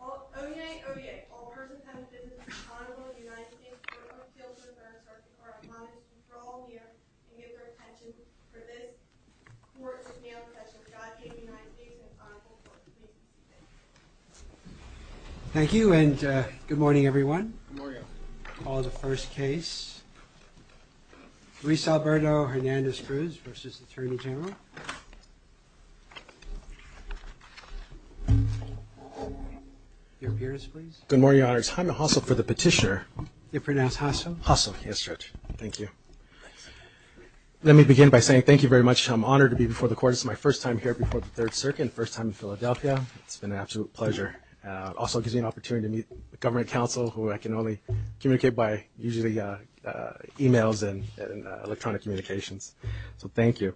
Oye, Oye, all persons have a business in the Honorable United States Court of Appeal to adverse or impartial conduct. Please draw near and give your attention for this Court of Nail Professional, Godspeed, United States, and Honorable Court of Appeal. Thank you. Thank you and good morning everyone. Good morning. I'll call the first case, Luis Alberto Hernandez Cruz v. Attorney General. Your appearance, please. Good morning, Your Honor. It's Jaime Hassel for the petitioner. You pronounce Hassel? Hassel. Yes, Judge. Thank you. Let me begin by saying thank you very much. I'm honored to be before the Court. It's my first time here before the Third Circuit and first time in Philadelphia. It's been an absolute pleasure. It also gives me an opportunity to meet government counsel who I can only communicate by usually emails and electronic communications. So thank you.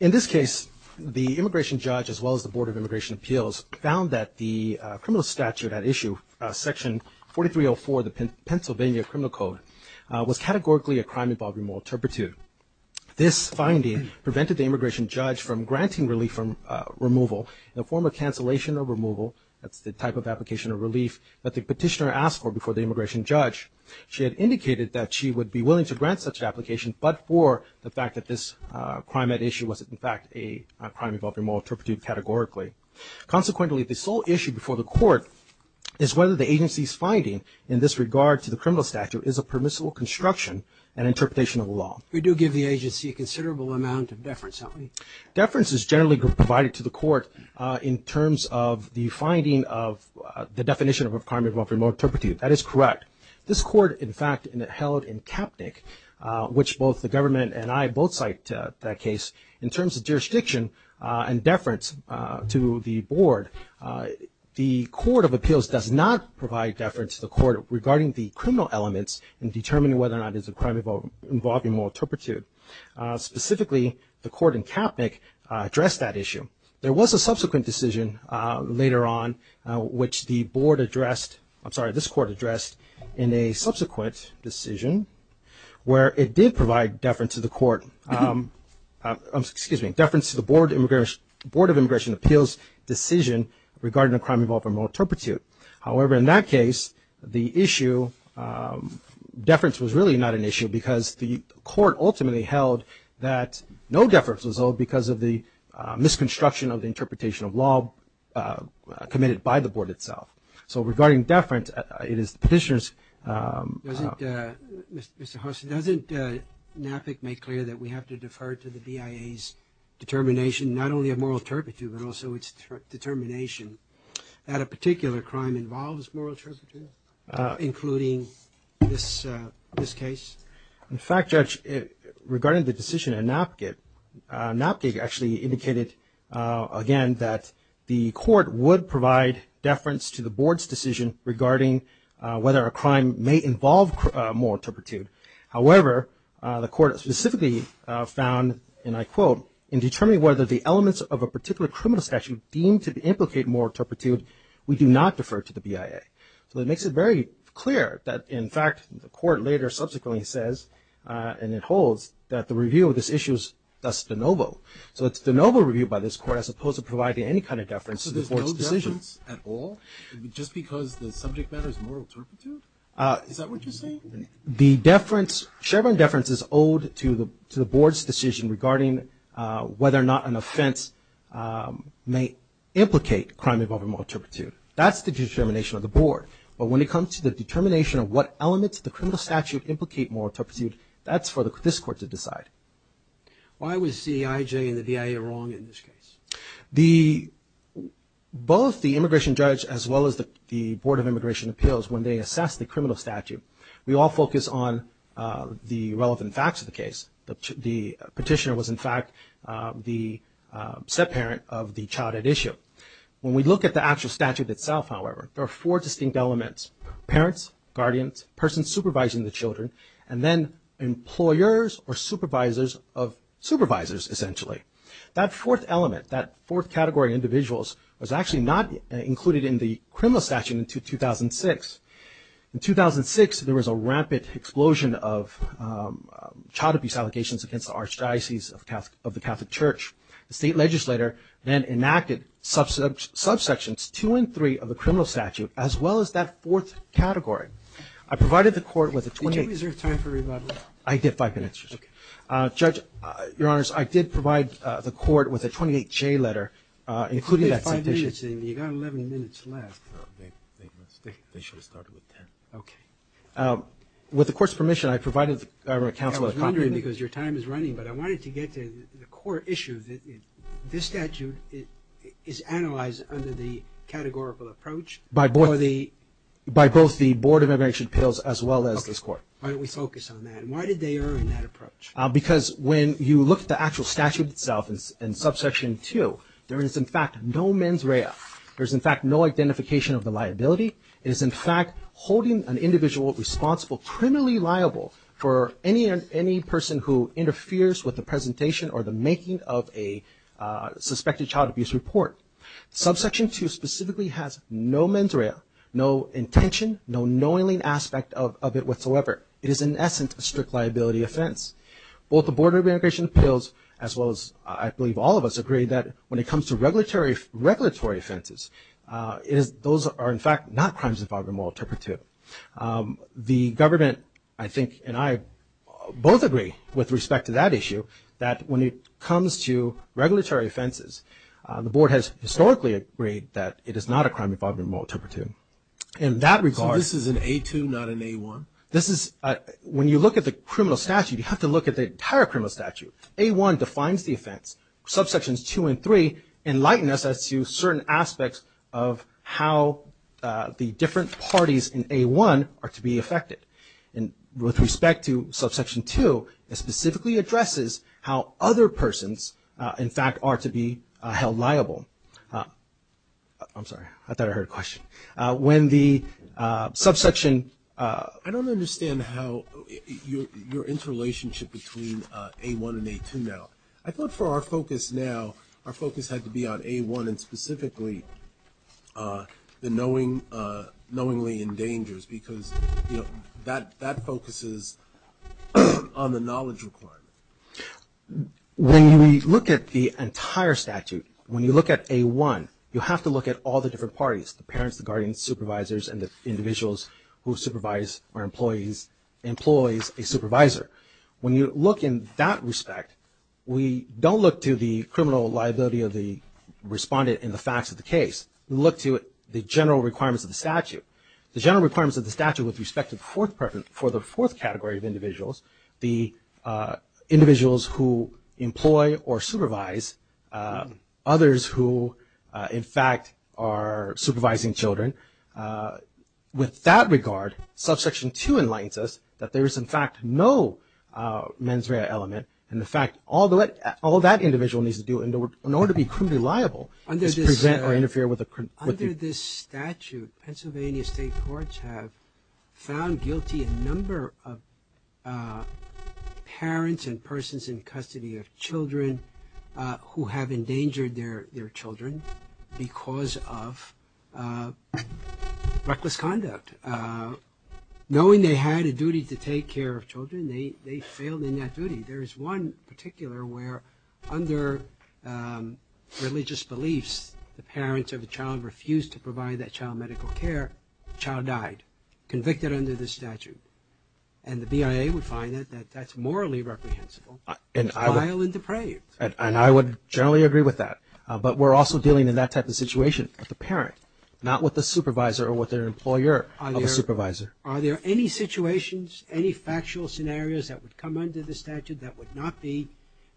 In this case, the immigration judge as well as the Board of Immigration Appeals found that the criminal statute at issue, Section 4304 of the Pennsylvania Criminal Code, was categorically a crime involving moral turpitude. This finding prevented the immigration judge from granting relief from removal in the form of cancellation or removal, that's the type of application of relief, that the petitioner asked for before the immigration judge. She had indicated that she would be willing to grant such an application but for the fact that this crime at issue was in fact a crime involving moral turpitude categorically. Consequently, the sole issue before the Court is whether the agency's finding in this regard to the criminal statute is a permissible construction and interpretation of the law. You do give the agency a considerable amount of deference, don't you? Deference is generally provided to the Court in terms of the finding of the definition of a crime involving moral turpitude. That is correct. This Court in fact held in Kaepnick, which both the government and I both cite that case, in terms of jurisdiction and deference to the Board, the Court of Appeals does not provide deference to the Court regarding the criminal elements in determining whether or not it is a crime involving moral turpitude. Specifically, the Court in Kaepnick addressed that issue. There was a subsequent decision later on which the Board addressed, I'm sorry, this Court addressed in a subsequent decision where it did provide deference to the Court, excuse me, deference to the Board of Immigration Appeals decision regarding a crime involving moral turpitude. However, in that case, the issue, deference was really not an issue because the Court ultimately held that no deference was owed because of the misconstruction of the interpretation of law committed by the Board itself. So regarding deference, it is the Petitioner's... Mr. Hosse, doesn't NAPIC make clear that we have to defer to the BIA's determination not only of moral turpitude, including this case? In fact, Judge, regarding the decision in NAPGIC, NAPGIC actually indicated again that the Court would provide deference to the Board's decision regarding whether a crime may involve moral turpitude. However, the Court specifically found, and I quote, in determining whether the elements of a particular criminal statute deemed to implicate moral turpitude, we do not defer to the BIA. So that makes it very clear that, in fact, the Court later subsequently says, and it holds, that the review of this issue is thus de novo. So it's de novo review by this Court as opposed to providing any kind of deference to the Board's decision. So there's no deference at all just because the subject matter is moral turpitude? Is that what you're saying? The deference, shared deference is owed to the Board's decision regarding whether or not an offense may implicate crime involving moral turpitude. That's the determination of the Board. But when it comes to the determination of what elements of the criminal statute implicate moral turpitude, that's for this Court to decide. Why was CEIJ and the BIA wrong in this case? Both the immigration judge as well as the Board of Immigration Appeals, when they assess the criminal statute, we all focus on the relevant facts of the case. The petitioner was, in fact, the set parent of the childhood issue. When we look at the actual statute itself, however, there are four distinct elements, parents, guardians, persons supervising the children, and then employers or supervisors of supervisors, essentially. That fourth element, that fourth category of individuals was actually not included in the criminal statute until 2006. In 2006, there was a rampant explosion of child abuse allegations against the Archdiocese of the Catholic Church. The state legislator then enacted subsections two and three of the criminal statute as well as that fourth category. I provided the Court with a 28- Did you reserve time for rebuttal? I did, five minutes. Okay. Judge, Your Honors, I did provide the Court with a 28-J letter, including that petition. You did five minutes, and you got 11 minutes left. They should have started with 10. Okay. With the Court's permission, I provided the government counsel- I was wondering, because your time is running, but I wanted to get to the core issue, that this statute is analyzed under the categorical approach or the- By both the Board of Immigration Appeals as well as this Court. Okay. Why don't we focus on that? Why did they earn that approach? Because when you look at the actual statute itself in subsection two, there is, in fact, no mens rea. There is, in fact, no identification of the liability. It is, in fact, holding an individual responsible criminally liable for any person who interferes with the presentation or the making of a suspected child abuse report. Subsection two specifically has no mens rea, no intention, no knowingly aspect of it whatsoever. It is, in essence, a strict liability offense. Both the Board of Immigration Appeals as well as, I believe, all of us agree that when it comes to regulatory offenses, those are, in fact, not crimes involving a moral turpitude. The government, I think, and I both agree with respect to that issue that when it comes to regulatory offenses, the Board has historically agreed that it is not a crime involving a moral turpitude. In that regard- So this is an A2, not an A1? When you look at the criminal statute, you have to look at the entire criminal statute. A1 defines the offense. Subsections two and three enlighten us as to certain aspects of how the different parties in A1 are to be affected. And with respect to subsection two, it specifically addresses how other persons, in fact, are to be held liable. I'm sorry. I thought I heard a question. When the subsection- I don't understand how your interrelationship between A1 and A2 now. I thought for our focus now, our focus had to be on A1 and specifically the knowingly endangers because that focuses on the knowledge requirement. When we look at the entire statute, when you look at A1, you have to look at all the different parties, the parents, the guardians, supervisors, and the individuals who supervise or employs a supervisor. When you look in that respect, we don't look to the criminal liability of the respondent in the facts of the case. We look to the general requirements of the statute. The general requirements of the statute with respect to the fourth category of individuals, the individuals who employ or supervise others who, in fact, are supervising children. With that regard, subsection two enlightens us that there is, in fact, no mens rea element. And, in fact, all that individual needs to do in order to be criminally liable is present or interfere with the- parents and persons in custody of children who have endangered their children because of reckless conduct. Knowing they had a duty to take care of children, they failed in that duty. There is one particular where under religious beliefs, the parents of the child refused to provide that child medical care, the child died, convicted under the statute. And the BIA would find that that's morally reprehensible, vile, and depraved. And I would generally agree with that. But we're also dealing in that type of situation with the parent, not with the supervisor or with their employer of a supervisor. Are there any situations, any factual scenarios that would come under the statute that would not be-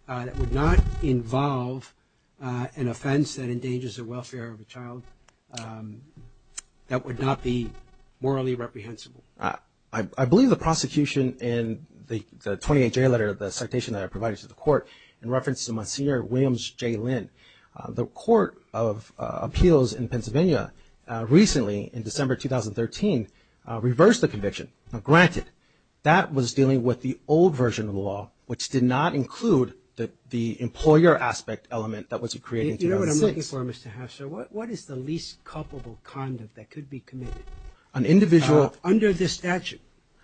that would not involve an offense that endangers the welfare of a child that would not be morally reprehensible? I believe the prosecution in the 28-J letter, the citation that I provided to the court, in reference to my senior, Williams J. Lynn, the Court of Appeals in Pennsylvania recently, in December 2013, reversed the conviction. Now, granted, that was dealing with the old version of the law, which did not include the employer aspect element that was created in 2006. You know what I'm looking for, Mr. Hatcher? What is the least culpable conduct that could be committed? An individual- Under the statute,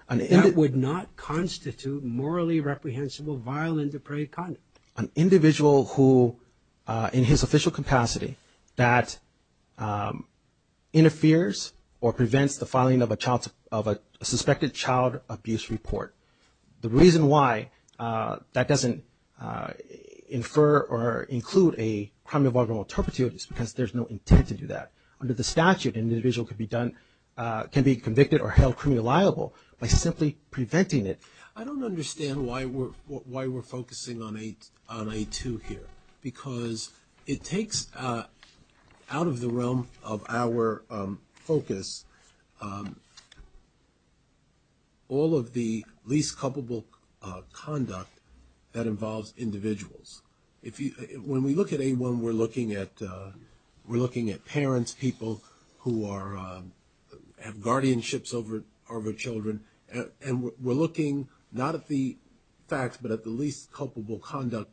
that would not constitute morally reprehensible, vile, and depraved conduct. An individual who, in his official capacity, that interferes or prevents the filing of a child's- of a suspected child abuse report. The reason why that doesn't infer or include a crime involving an alterpity is because there's no intent to do that. Under the statute, an individual can be convicted or held criminally liable by simply preventing it. I don't understand why we're focusing on A2 here, because it takes out of the realm of our focus all of the least culpable conduct that involves individuals. When we look at A1, we're looking at parents, people who have guardianships over children, and we're looking not at the facts, but at the least culpable conduct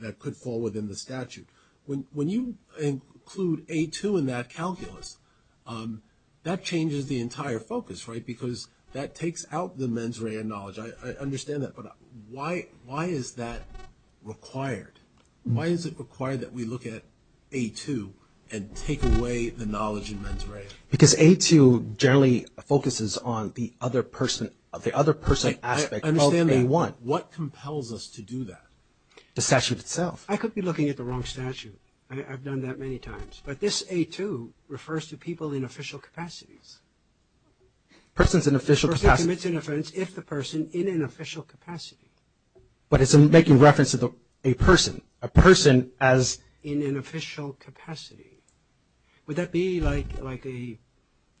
that could fall within the statute. When you include A2 in that calculus, that changes the entire focus, right? Because that takes out the mens rea knowledge. I understand that, but why is that required? Why is it required that we look at A2 and take away the knowledge in mens rea? Because A2 generally focuses on the other person aspect of A1. What compels us to do that? The statute itself. I could be looking at the wrong statute. I've done that many times. But this A2 refers to people in official capacities. A person commits an offense if the person in an official capacity. But it's making reference to a person. A person as in an official capacity. Would that be like a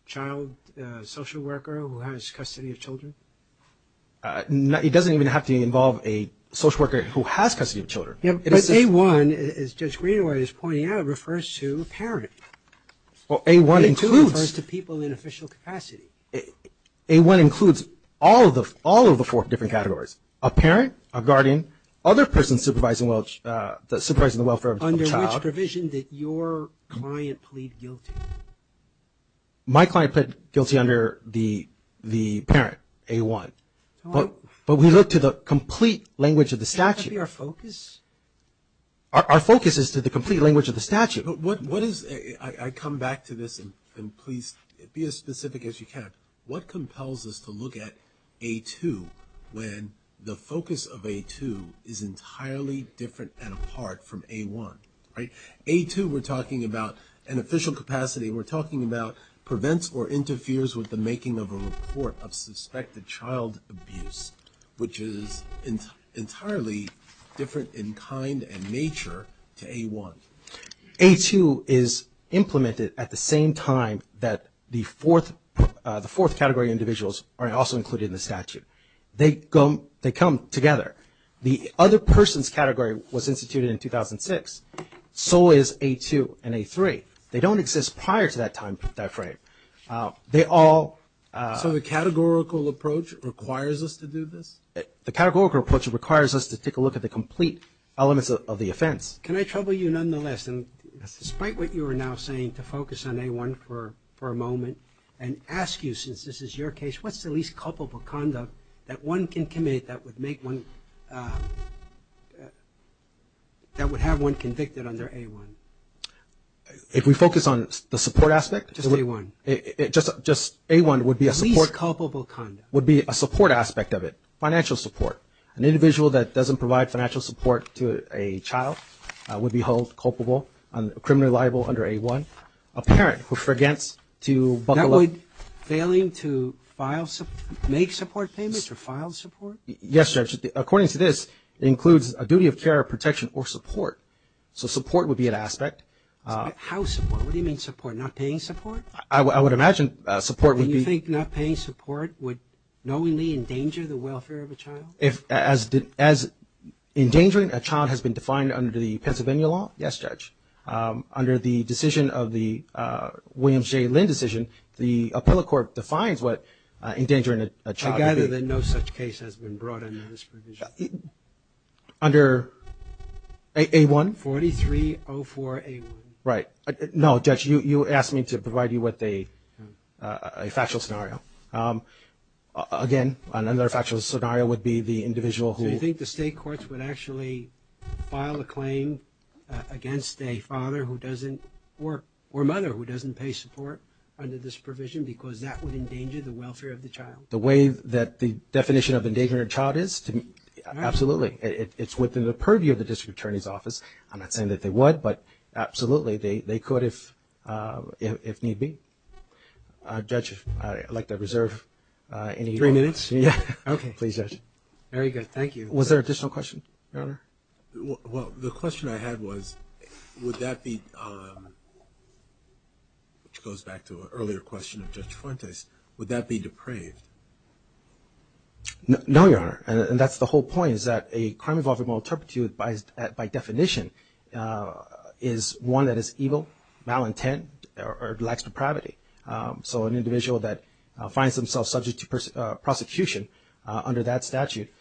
child social worker who has custody of children? It doesn't even have to involve a social worker who has custody of children. But A1, as Judge Greenaway is pointing out, refers to a parent. Well, A1 includes. A2 refers to people in official capacity. A1 includes all of the four different categories. A parent, a guardian, other person supervising the welfare of the child. Under which provision did your client plead guilty? My client pled guilty under the parent, A1. But we look to the complete language of the statute. Can't that be our focus? Our focus is to the complete language of the statute. I come back to this, and please be as specific as you can. What compels us to look at A2 when the focus of A2 is entirely different and apart from A1? A2, we're talking about an official capacity. We're talking about prevents or interferes with the making of a report of suspected child abuse, which is entirely different in kind and nature to A1. A2 is implemented at the same time that the fourth category individuals are also included in the statute. They come together. The other person's category was instituted in 2006. So is A2 and A3. They don't exist prior to that time frame. They all – So the categorical approach requires us to do this? The categorical approach requires us to take a look at the complete elements of the offense. Can I trouble you nonetheless, and despite what you are now saying, to focus on A1 for a moment and ask you, since this is your case, what's the least culpable conduct that one can commit that would make one – that would have one convicted under A1? If we focus on the support aspect? Just A1. Just A1 would be a support – Least culpable conduct. Would be a support aspect of it, financial support. An individual that doesn't provide financial support to a child would be held culpable, a criminal liable under A1. A parent who forgets to buckle up – That would fail him to file – make support payments or file support? Yes, Judge. According to this, it includes a duty of care, protection, or support. So support would be an aspect. How support? What do you mean support? Not paying support? I would imagine support would be – And you think not paying support would knowingly endanger the welfare of a child? As endangering a child has been defined under the Pennsylvania law? Yes, Judge. Under the decision of the Williams J. Lynn decision, the appellate court defines what endangering a child would be. I gather that no such case has been brought under this provision. Under A1? 4304A1. Right. No, Judge, you asked me to provide you with a factual scenario. Again, another factual scenario would be the individual who – So you think the state courts would actually file a claim against a father who doesn't – or mother who doesn't pay support under this provision because that would endanger the welfare of the child? The way that the definition of endangering a child is? Absolutely. It's within the purview of the district attorney's office. I'm not saying that they would, but absolutely, they could if need be. Judge, I'd like to reserve any – Three minutes? Yes. Okay. Please, Judge. Very good. Thank you. Was there an additional question, Your Honor? Well, the question I had was would that be – which goes back to an earlier question of Judge Fuentes – would that be depraved? No, Your Honor, and that's the whole point is that a crime involving moral turpitude by definition is one that is evil, malintent, or lacks depravity. So an individual that finds themselves subject to prosecution under that statute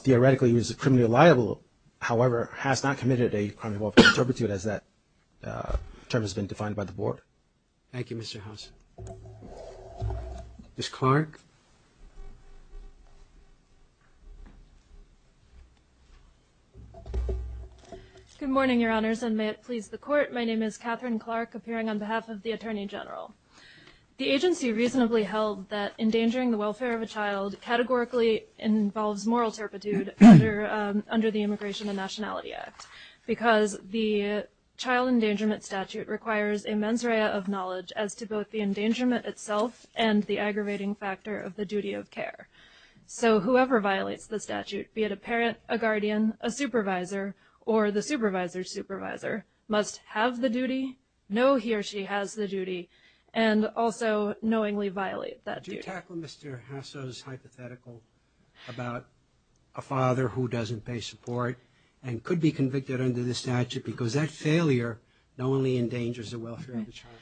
theoretically is criminally liable, however, has not committed a crime involving turpitude as that term has been defined by the board. Thank you, Mr. House. Ms. Clark? Good morning, Your Honors, and may it please the Court. My name is Catherine Clark, appearing on behalf of the Attorney General. The agency reasonably held that endangering the welfare of a child categorically involves moral turpitude under the Immigration and Nationality Act because the child endangerment statute requires a mens rea of knowledge as to both the endangerment itself and the aggravating factor of the duty of care. So whoever violates the statute, be it a parent, a guardian, a supervisor, or the supervisor's supervisor, must have the duty, know he or she has the duty, and also knowingly violate that duty. Do you tackle Mr. Hasso's hypothetical about a father who doesn't pay support and could be convicted under the statute because that failure not only endangers the welfare of the child?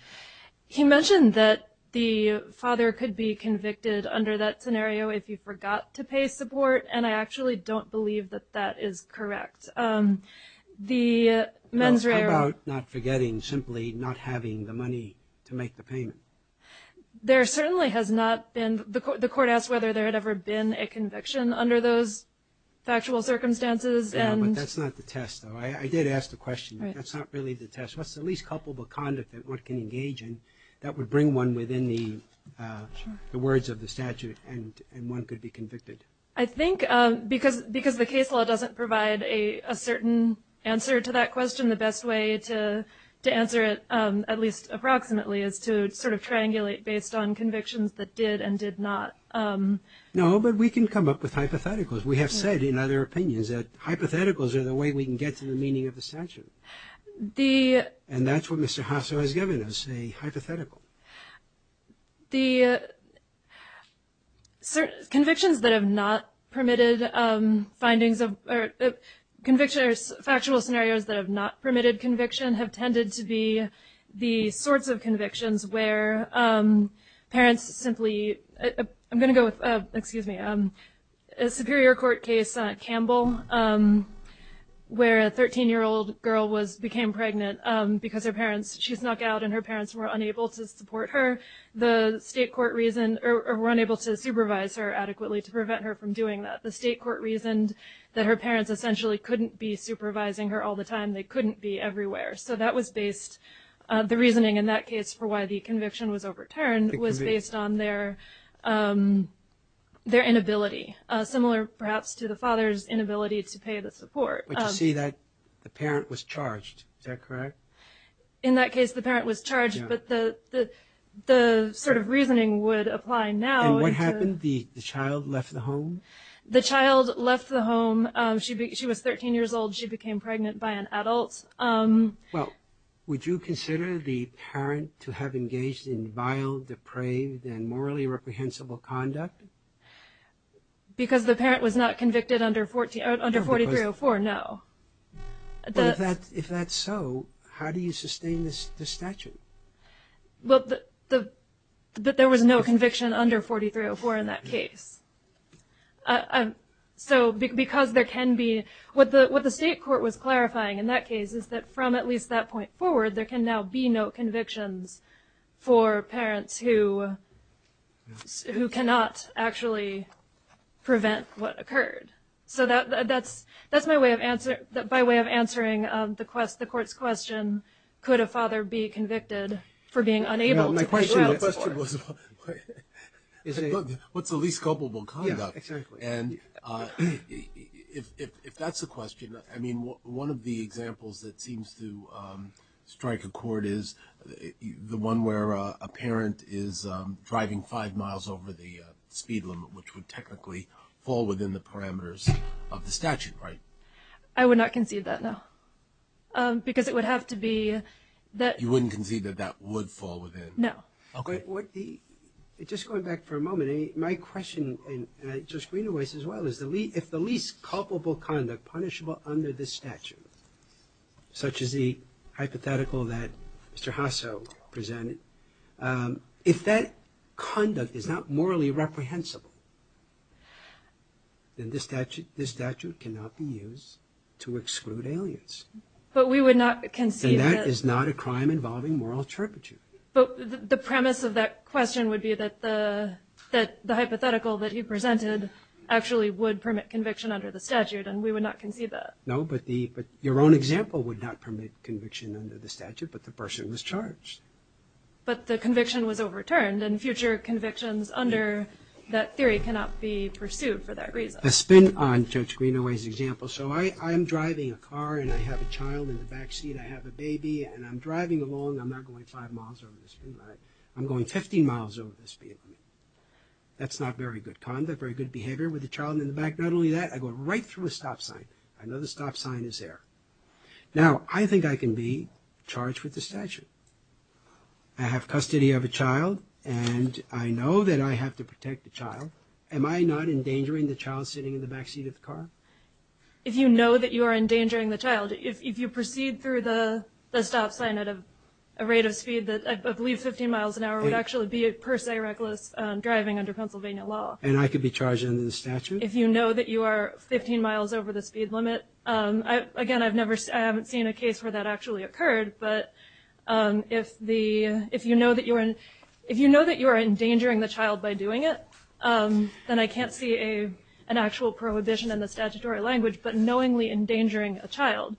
He mentioned that the father could be convicted under that scenario if he forgot to pay support, and I actually don't believe that that is correct. The mens rea... How about not forgetting, simply not having the money to make the payment? There certainly has not been. The Court asked whether there had ever been a conviction under those factual circumstances. But that's not the test, though. I did ask the question. That's not really the test. What's the least culpable conduct that one can engage in that would bring one within the words of the statute, and one could be convicted? I think because the case law doesn't provide a certain answer to that question, the best way to answer it, at least approximately, is to sort of triangulate based on convictions that did and did not. No, but we can come up with hypotheticals. We have said in other opinions that hypotheticals are the way we can get to the meaning of the statute. And that's what Mr. Hasso has given us, a hypothetical. The convictions that have not permitted findings of... Convictions or factual scenarios that have not permitted conviction have tended to be the sorts of convictions where parents simply... I'm going to go with... Excuse me. A Superior Court case, Campbell, where a 13-year-old girl became pregnant because her parents... She was knocked out and her parents were unable to support her. The state court reasoned... Or were unable to supervise her adequately to prevent her from doing that. The state court reasoned that her parents essentially couldn't be supervising her all the time. They couldn't be everywhere. So that was based... The reasoning in that case for why the conviction was overturned was based on their inability, similar perhaps to the father's inability to pay the support. But you see that the parent was charged. Is that correct? In that case, the parent was charged, but the sort of reasoning would apply now... And what happened? The child left the home? The child left the home. She was 13 years old. She became pregnant by an adult. Would you consider the parent to have engaged in vile, depraved, and morally reprehensible conduct? Because the parent was not convicted under 4304, no. If that's so, how do you sustain this statute? There was no conviction under 4304 in that case. So because there can be... What the state court was clarifying in that case is that from at least that point forward, there can now be no convictions for parents who cannot actually prevent what occurred. So that's my way of answering the court's question, could a father be convicted for being unable to pay the support? The question was, what's the least culpable conduct? Yes, exactly. And if that's the question, I mean, one of the examples that seems to strike a chord is the one where a parent is driving five miles over the speed limit, which would technically fall within the parameters of the statute, right? I would not concede that, no. Because it would have to be that... You wouldn't concede that that would fall within... No. Okay. Just going back for a moment, my question, and I just read it as well, is if the least culpable conduct punishable under this statute, such as the hypothetical that Mr. Hasso presented, if that conduct is not morally reprehensible, then this statute cannot be used to exclude aliens. But we would not concede... And that is not a crime involving moral turpitude. But the premise of that question would be that the hypothetical that he presented actually would permit conviction under the statute, and we would not concede that. No, but your own example would not permit conviction under the statute, but the person was charged. But the conviction was overturned, and future convictions under that theory cannot be pursued for that reason. A spin on Judge Greenaway's example. So I'm driving a car, and I have a child in the back seat. I have a baby, and I'm driving along. I'm not going five miles over this vehicle. I'm going 15 miles over this vehicle. That's not very good conduct, very good behavior with a child in the back. Not only that, I go right through a stop sign. I know the stop sign is there. Now, I think I can be charged with the statute. I have custody of a child, and I know that I have to protect the child. Am I not endangering the child sitting in the back seat of the car? If you know that you are endangering the child, if you proceed through the stop sign at a rate of speed that I believe 15 miles an hour would actually be per se reckless driving under Pennsylvania law. And I could be charged under the statute? If you know that you are 15 miles over the speed limit. Again, I haven't seen a case where that actually occurred, but if you know that you are endangering the child by doing it, then I can't see an actual prohibition in the statutory language, but knowingly endangering a child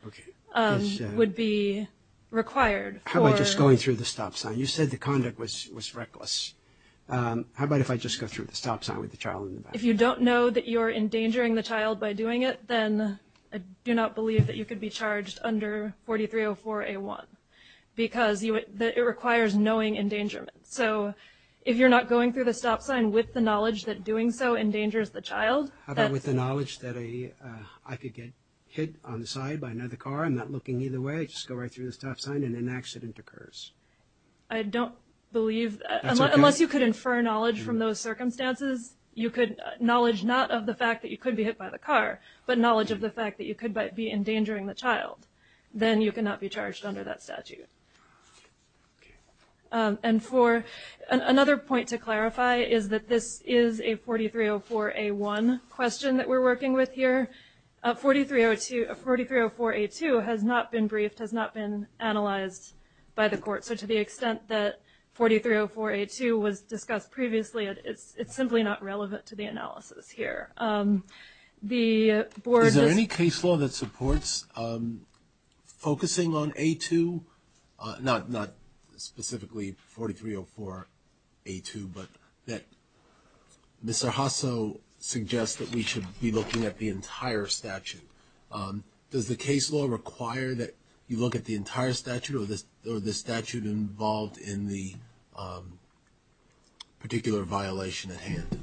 would be required. How about just going through the stop sign? You said the conduct was reckless. How about if I just go through the stop sign with the child in the back? If you don't know that you are endangering the child by doing it, then I do not believe that you could be charged under 4304A1, because it requires knowing endangerment. So if you're not going through the stop sign with the knowledge that doing so endangers the child. How about with the knowledge that I could get hit on the side by another car? I'm not looking either way. I just go right through the stop sign and an accident occurs. I don't believe that. Unless you could infer knowledge from those circumstances, knowledge not of the fact that you could be hit by the car, but knowledge of the fact that you could be endangering the child, then you cannot be charged under that statute. And for another point to clarify is that this is a 4304A1 question that we're working with here. 4304A2 has not been briefed, has not been analyzed by the court. So to the extent that 4304A2 was discussed previously, it's simply not relevant to the analysis here. Is there any case law that supports focusing on A2, not specifically 4304A2, but that Mr. Hasso suggests that we should be looking at the entire statute? Does the case law require that you look at the entire statute or the statute involved in the particular violation at hand?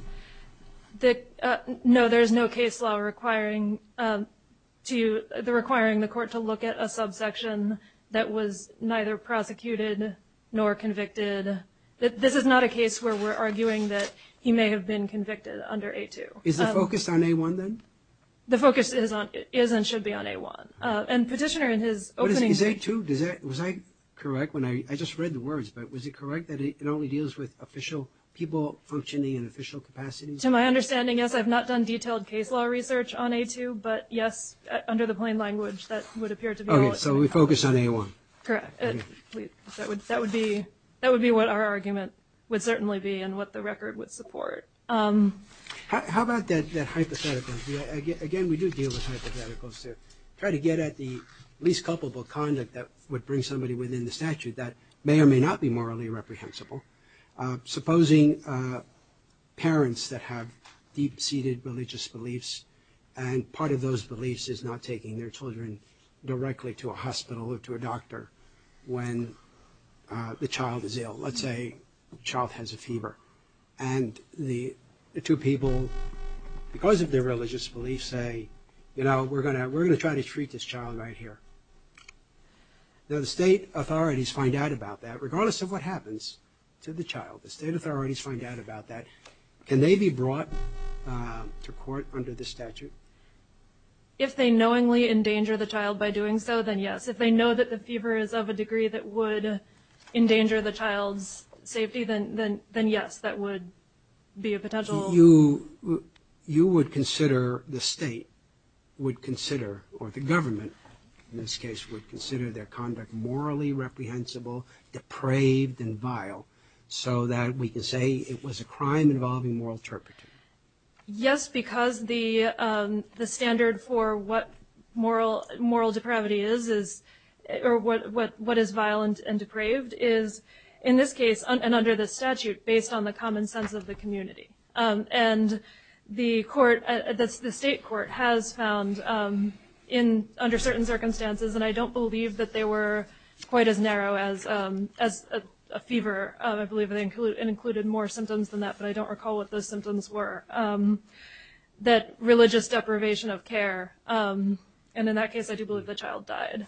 No, there is no case law requiring the court to look at a subsection that was neither prosecuted nor convicted. This is not a case where we're arguing that he may have been convicted under A2. Is the focus on A1, then? The focus is and should be on A1. And Petitioner, in his opening statement— But is A2—was I correct when I—I just read the words, but was it correct that it only deals with official people functioning in official capacities? To my understanding, yes, I've not done detailed case law research on A2, but yes, under the plain language, that would appear to be— Okay, so we focus on A1. Correct. That would be what our argument would certainly be and what the record would support. How about that hypothetical? Again, we do deal with hypotheticals to try to get at the least culpable conduct that would bring somebody within the statute that may or may not be morally reprehensible. Supposing parents that have deep-seated religious beliefs, and part of those beliefs is not taking their children directly to a hospital or to a doctor when the child is ill. Let's say the child has a fever, and the two people, because of their religious beliefs, say, you know, we're going to try to treat this child right here. Now, the state authorities find out about that, regardless of what happens to the child. The state authorities find out about that. Can they be brought to court under the statute? If they knowingly endanger the child by doing so, then yes. If they know that the fever is of a degree that would endanger the child's safety, then yes, that would be a potential— So you would consider, the state would consider, or the government, in this case, would consider their conduct morally reprehensible, depraved, and vile, so that we can say it was a crime involving moral turpitude. Yes, because the standard for what moral depravity is, or what is violent and depraved, is, in this case, and under the statute, based on the common sense of the community. And the court, the state court, has found, under certain circumstances, and I don't believe that they were quite as narrow as a fever, I believe it included more symptoms than that, but I don't recall what those symptoms were, that religious deprivation of care, and in that case, I do believe the child died,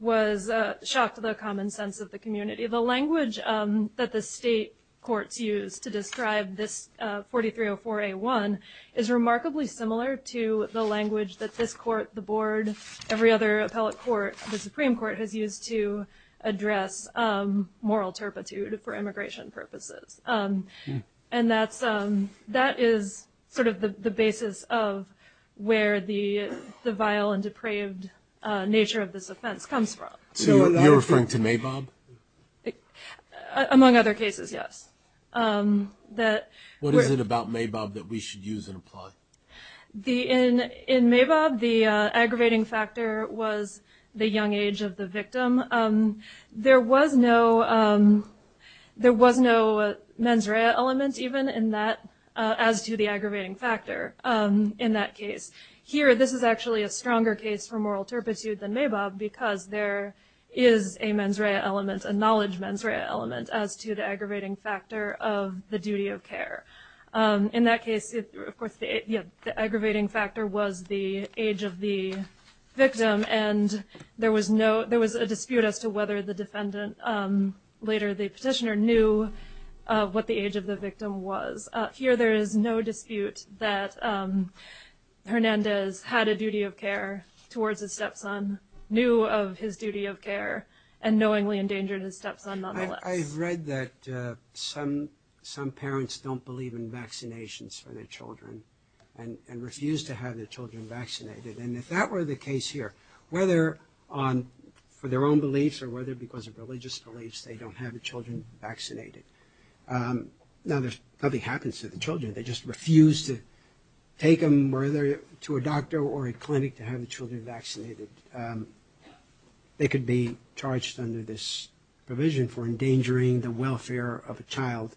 was shocked at the common sense of the community. The language that the state courts use to describe this 4304A1 is remarkably similar to the language that this court, the board, every other appellate court, the Supreme Court has used to address moral turpitude for immigration purposes. And that is sort of the basis of where the vile and depraved nature of this offense comes from. So you're referring to Mabob? Among other cases, yes. What is it about Mabob that we should use and apply? In Mabob, the aggravating factor was the young age of the victim. There was no mens rea element even in that, as to the aggravating factor in that case. Here, this is actually a stronger case for moral turpitude than Mabob because there is a mens rea element, a knowledge mens rea element, as to the aggravating factor of the duty of care. In that case, of course, the aggravating factor was the age of the victim, and there was a dispute as to whether the defendant, later the petitioner, knew what the age of the victim was. Here there is no dispute that Hernandez had a duty of care towards his stepson, knew of his duty of care, and knowingly endangered his stepson nonetheless. I've read that some parents don't believe in vaccinations for their children and refuse to have their children vaccinated. And if that were the case here, whether for their own beliefs or whether because of religious beliefs, they don't have their children vaccinated. Now, nothing happens to the children. They just refuse to take them, whether to a doctor or a clinic, to have the children vaccinated. They could be charged under this provision for endangering the welfare of a child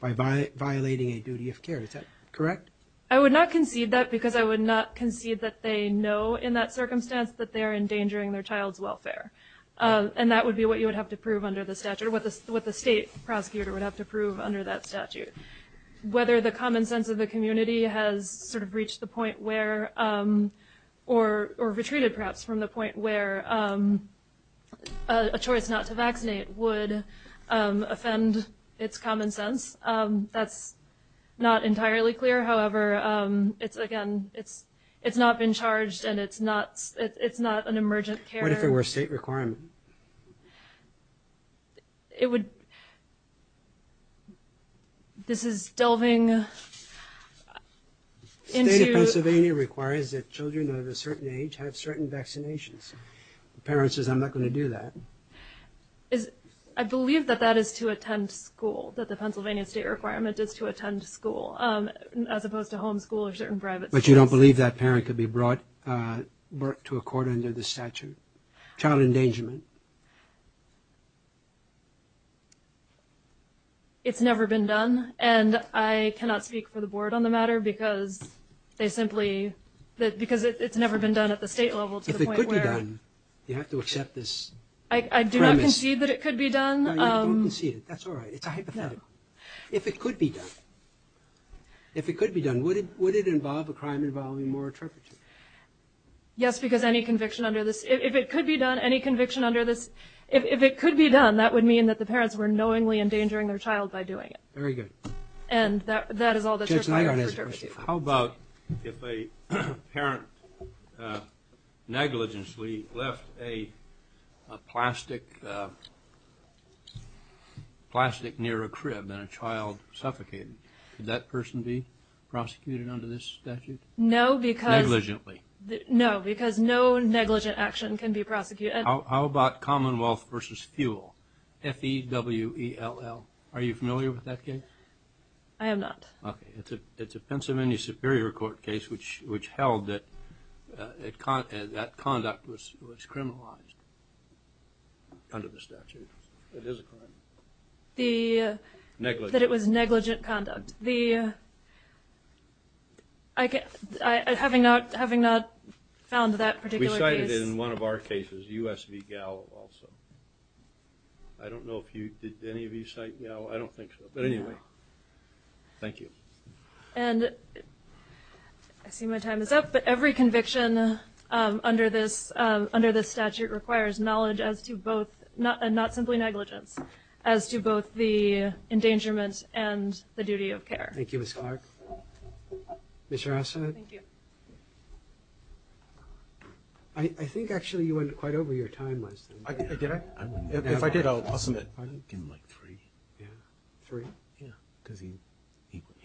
by violating a duty of care. Is that correct? I would not concede that because I would not concede that they know in that circumstance that they are endangering their child's welfare. And that would be what you would have to prove under the statute, what the state prosecutor would have to prove under that statute. Whether the common sense of the community has sort of reached the point where or retreated perhaps from the point where a choice not to vaccinate would offend its common sense, that's not entirely clear. However, it's, again, it's not been charged and it's not an emergent care. What if it were a state requirement? It would – this is delving into – The state of Pennsylvania requires that children of a certain age have certain vaccinations. The parent says, I'm not going to do that. I believe that that is to attend school, that the Pennsylvania state requirement is to attend school, as opposed to homeschool or certain private schools. But you don't believe that parent could be brought to a court under the statute, child endangerment? It's never been done. And I cannot speak for the board on the matter because they simply – because it's never been done at the state level to the point where – If it could be done, you have to accept this. I do not concede that it could be done. No, you don't concede it. That's all right. It's a hypothetical. If it could be done, if it could be done, would it involve a crime involving moral turpitude? Yes, because any conviction under this – if it could be done, any conviction under this – if it could be done, that would mean that the parents were knowingly endangering their child by doing it. Very good. And that is all that's required for turpitude. How about if a parent negligently left a plastic near a crib and a child suffocated? Could that person be prosecuted under this statute? No, because – Negligently. No, because no negligent action can be prosecuted. How about Commonwealth v. Fuel, F-E-W-E-L-L? Are you familiar with that case? I am not. Okay. It's a Pennsylvania Superior Court case which held that that conduct was criminalized under the statute. It is a crime. The – Negligent. That it was negligent conduct. Having not found that particular case – We cited it in one of our cases, U.S. v. Gallo also. I don't know if you – did any of you cite Gallo? I don't think so. But anyway, thank you. And I see my time is up, but every conviction under this statute requires knowledge as to both – not simply negligence, as to both the endangerment and the duty of care. Thank you, Ms. Clark. Mr. Asad? Thank you. I think actually you went quite over your time last time. Did I? If I did, I'll submit. Give him, like, three. Yeah. Three? Yeah. Because he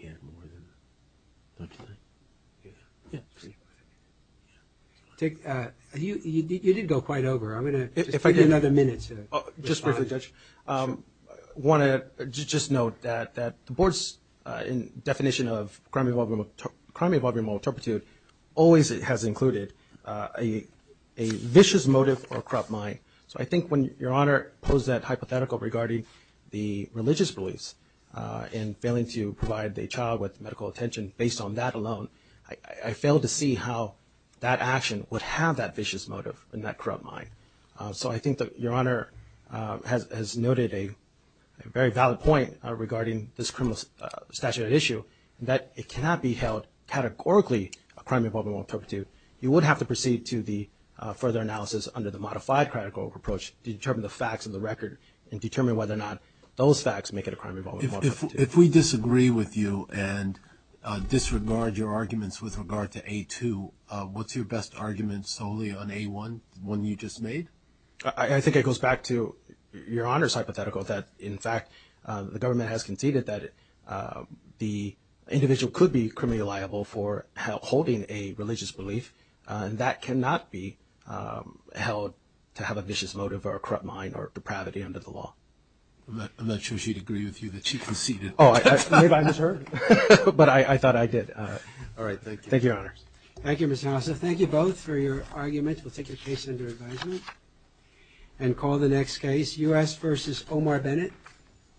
had more than – don't you think? Yeah. You did go quite over. I'm going to give you another minute to respond. Just briefly, Judge. I want to just note that the Board's definition of crime involving moral turpitude always has included a vicious motive or corrupt mind. So I think when Your Honor posed that hypothetical regarding the religious beliefs and failing to provide the child with medical attention based on that alone, I failed to see how that action would have that vicious motive and that corrupt mind. So I think that Your Honor has noted a very valid point regarding this criminal statute issue, that it cannot be held categorically a crime involving moral turpitude. You would have to proceed to the further analysis under the modified critical approach to determine the facts of the record and determine whether or not those facts make it a crime involving moral turpitude. If we disagree with you and disregard your arguments with regard to A2, what's your best argument solely on A1, the one you just made? I think it goes back to Your Honor's hypothetical that, in fact, the government has conceded that the individual could be criminally liable for holding a religious belief, and that cannot be held to have a vicious motive or a corrupt mind or depravity under the law. I'm not sure she'd agree with you that she conceded. Oh, maybe I misheard. But I thought I did. All right, thank you. Thank you, Your Honor. Thank you, Mr. Hassif. Thank you both for your arguments. We'll take your case under advisement and call the next case, U.S. v. Omar Bennett. Thank you.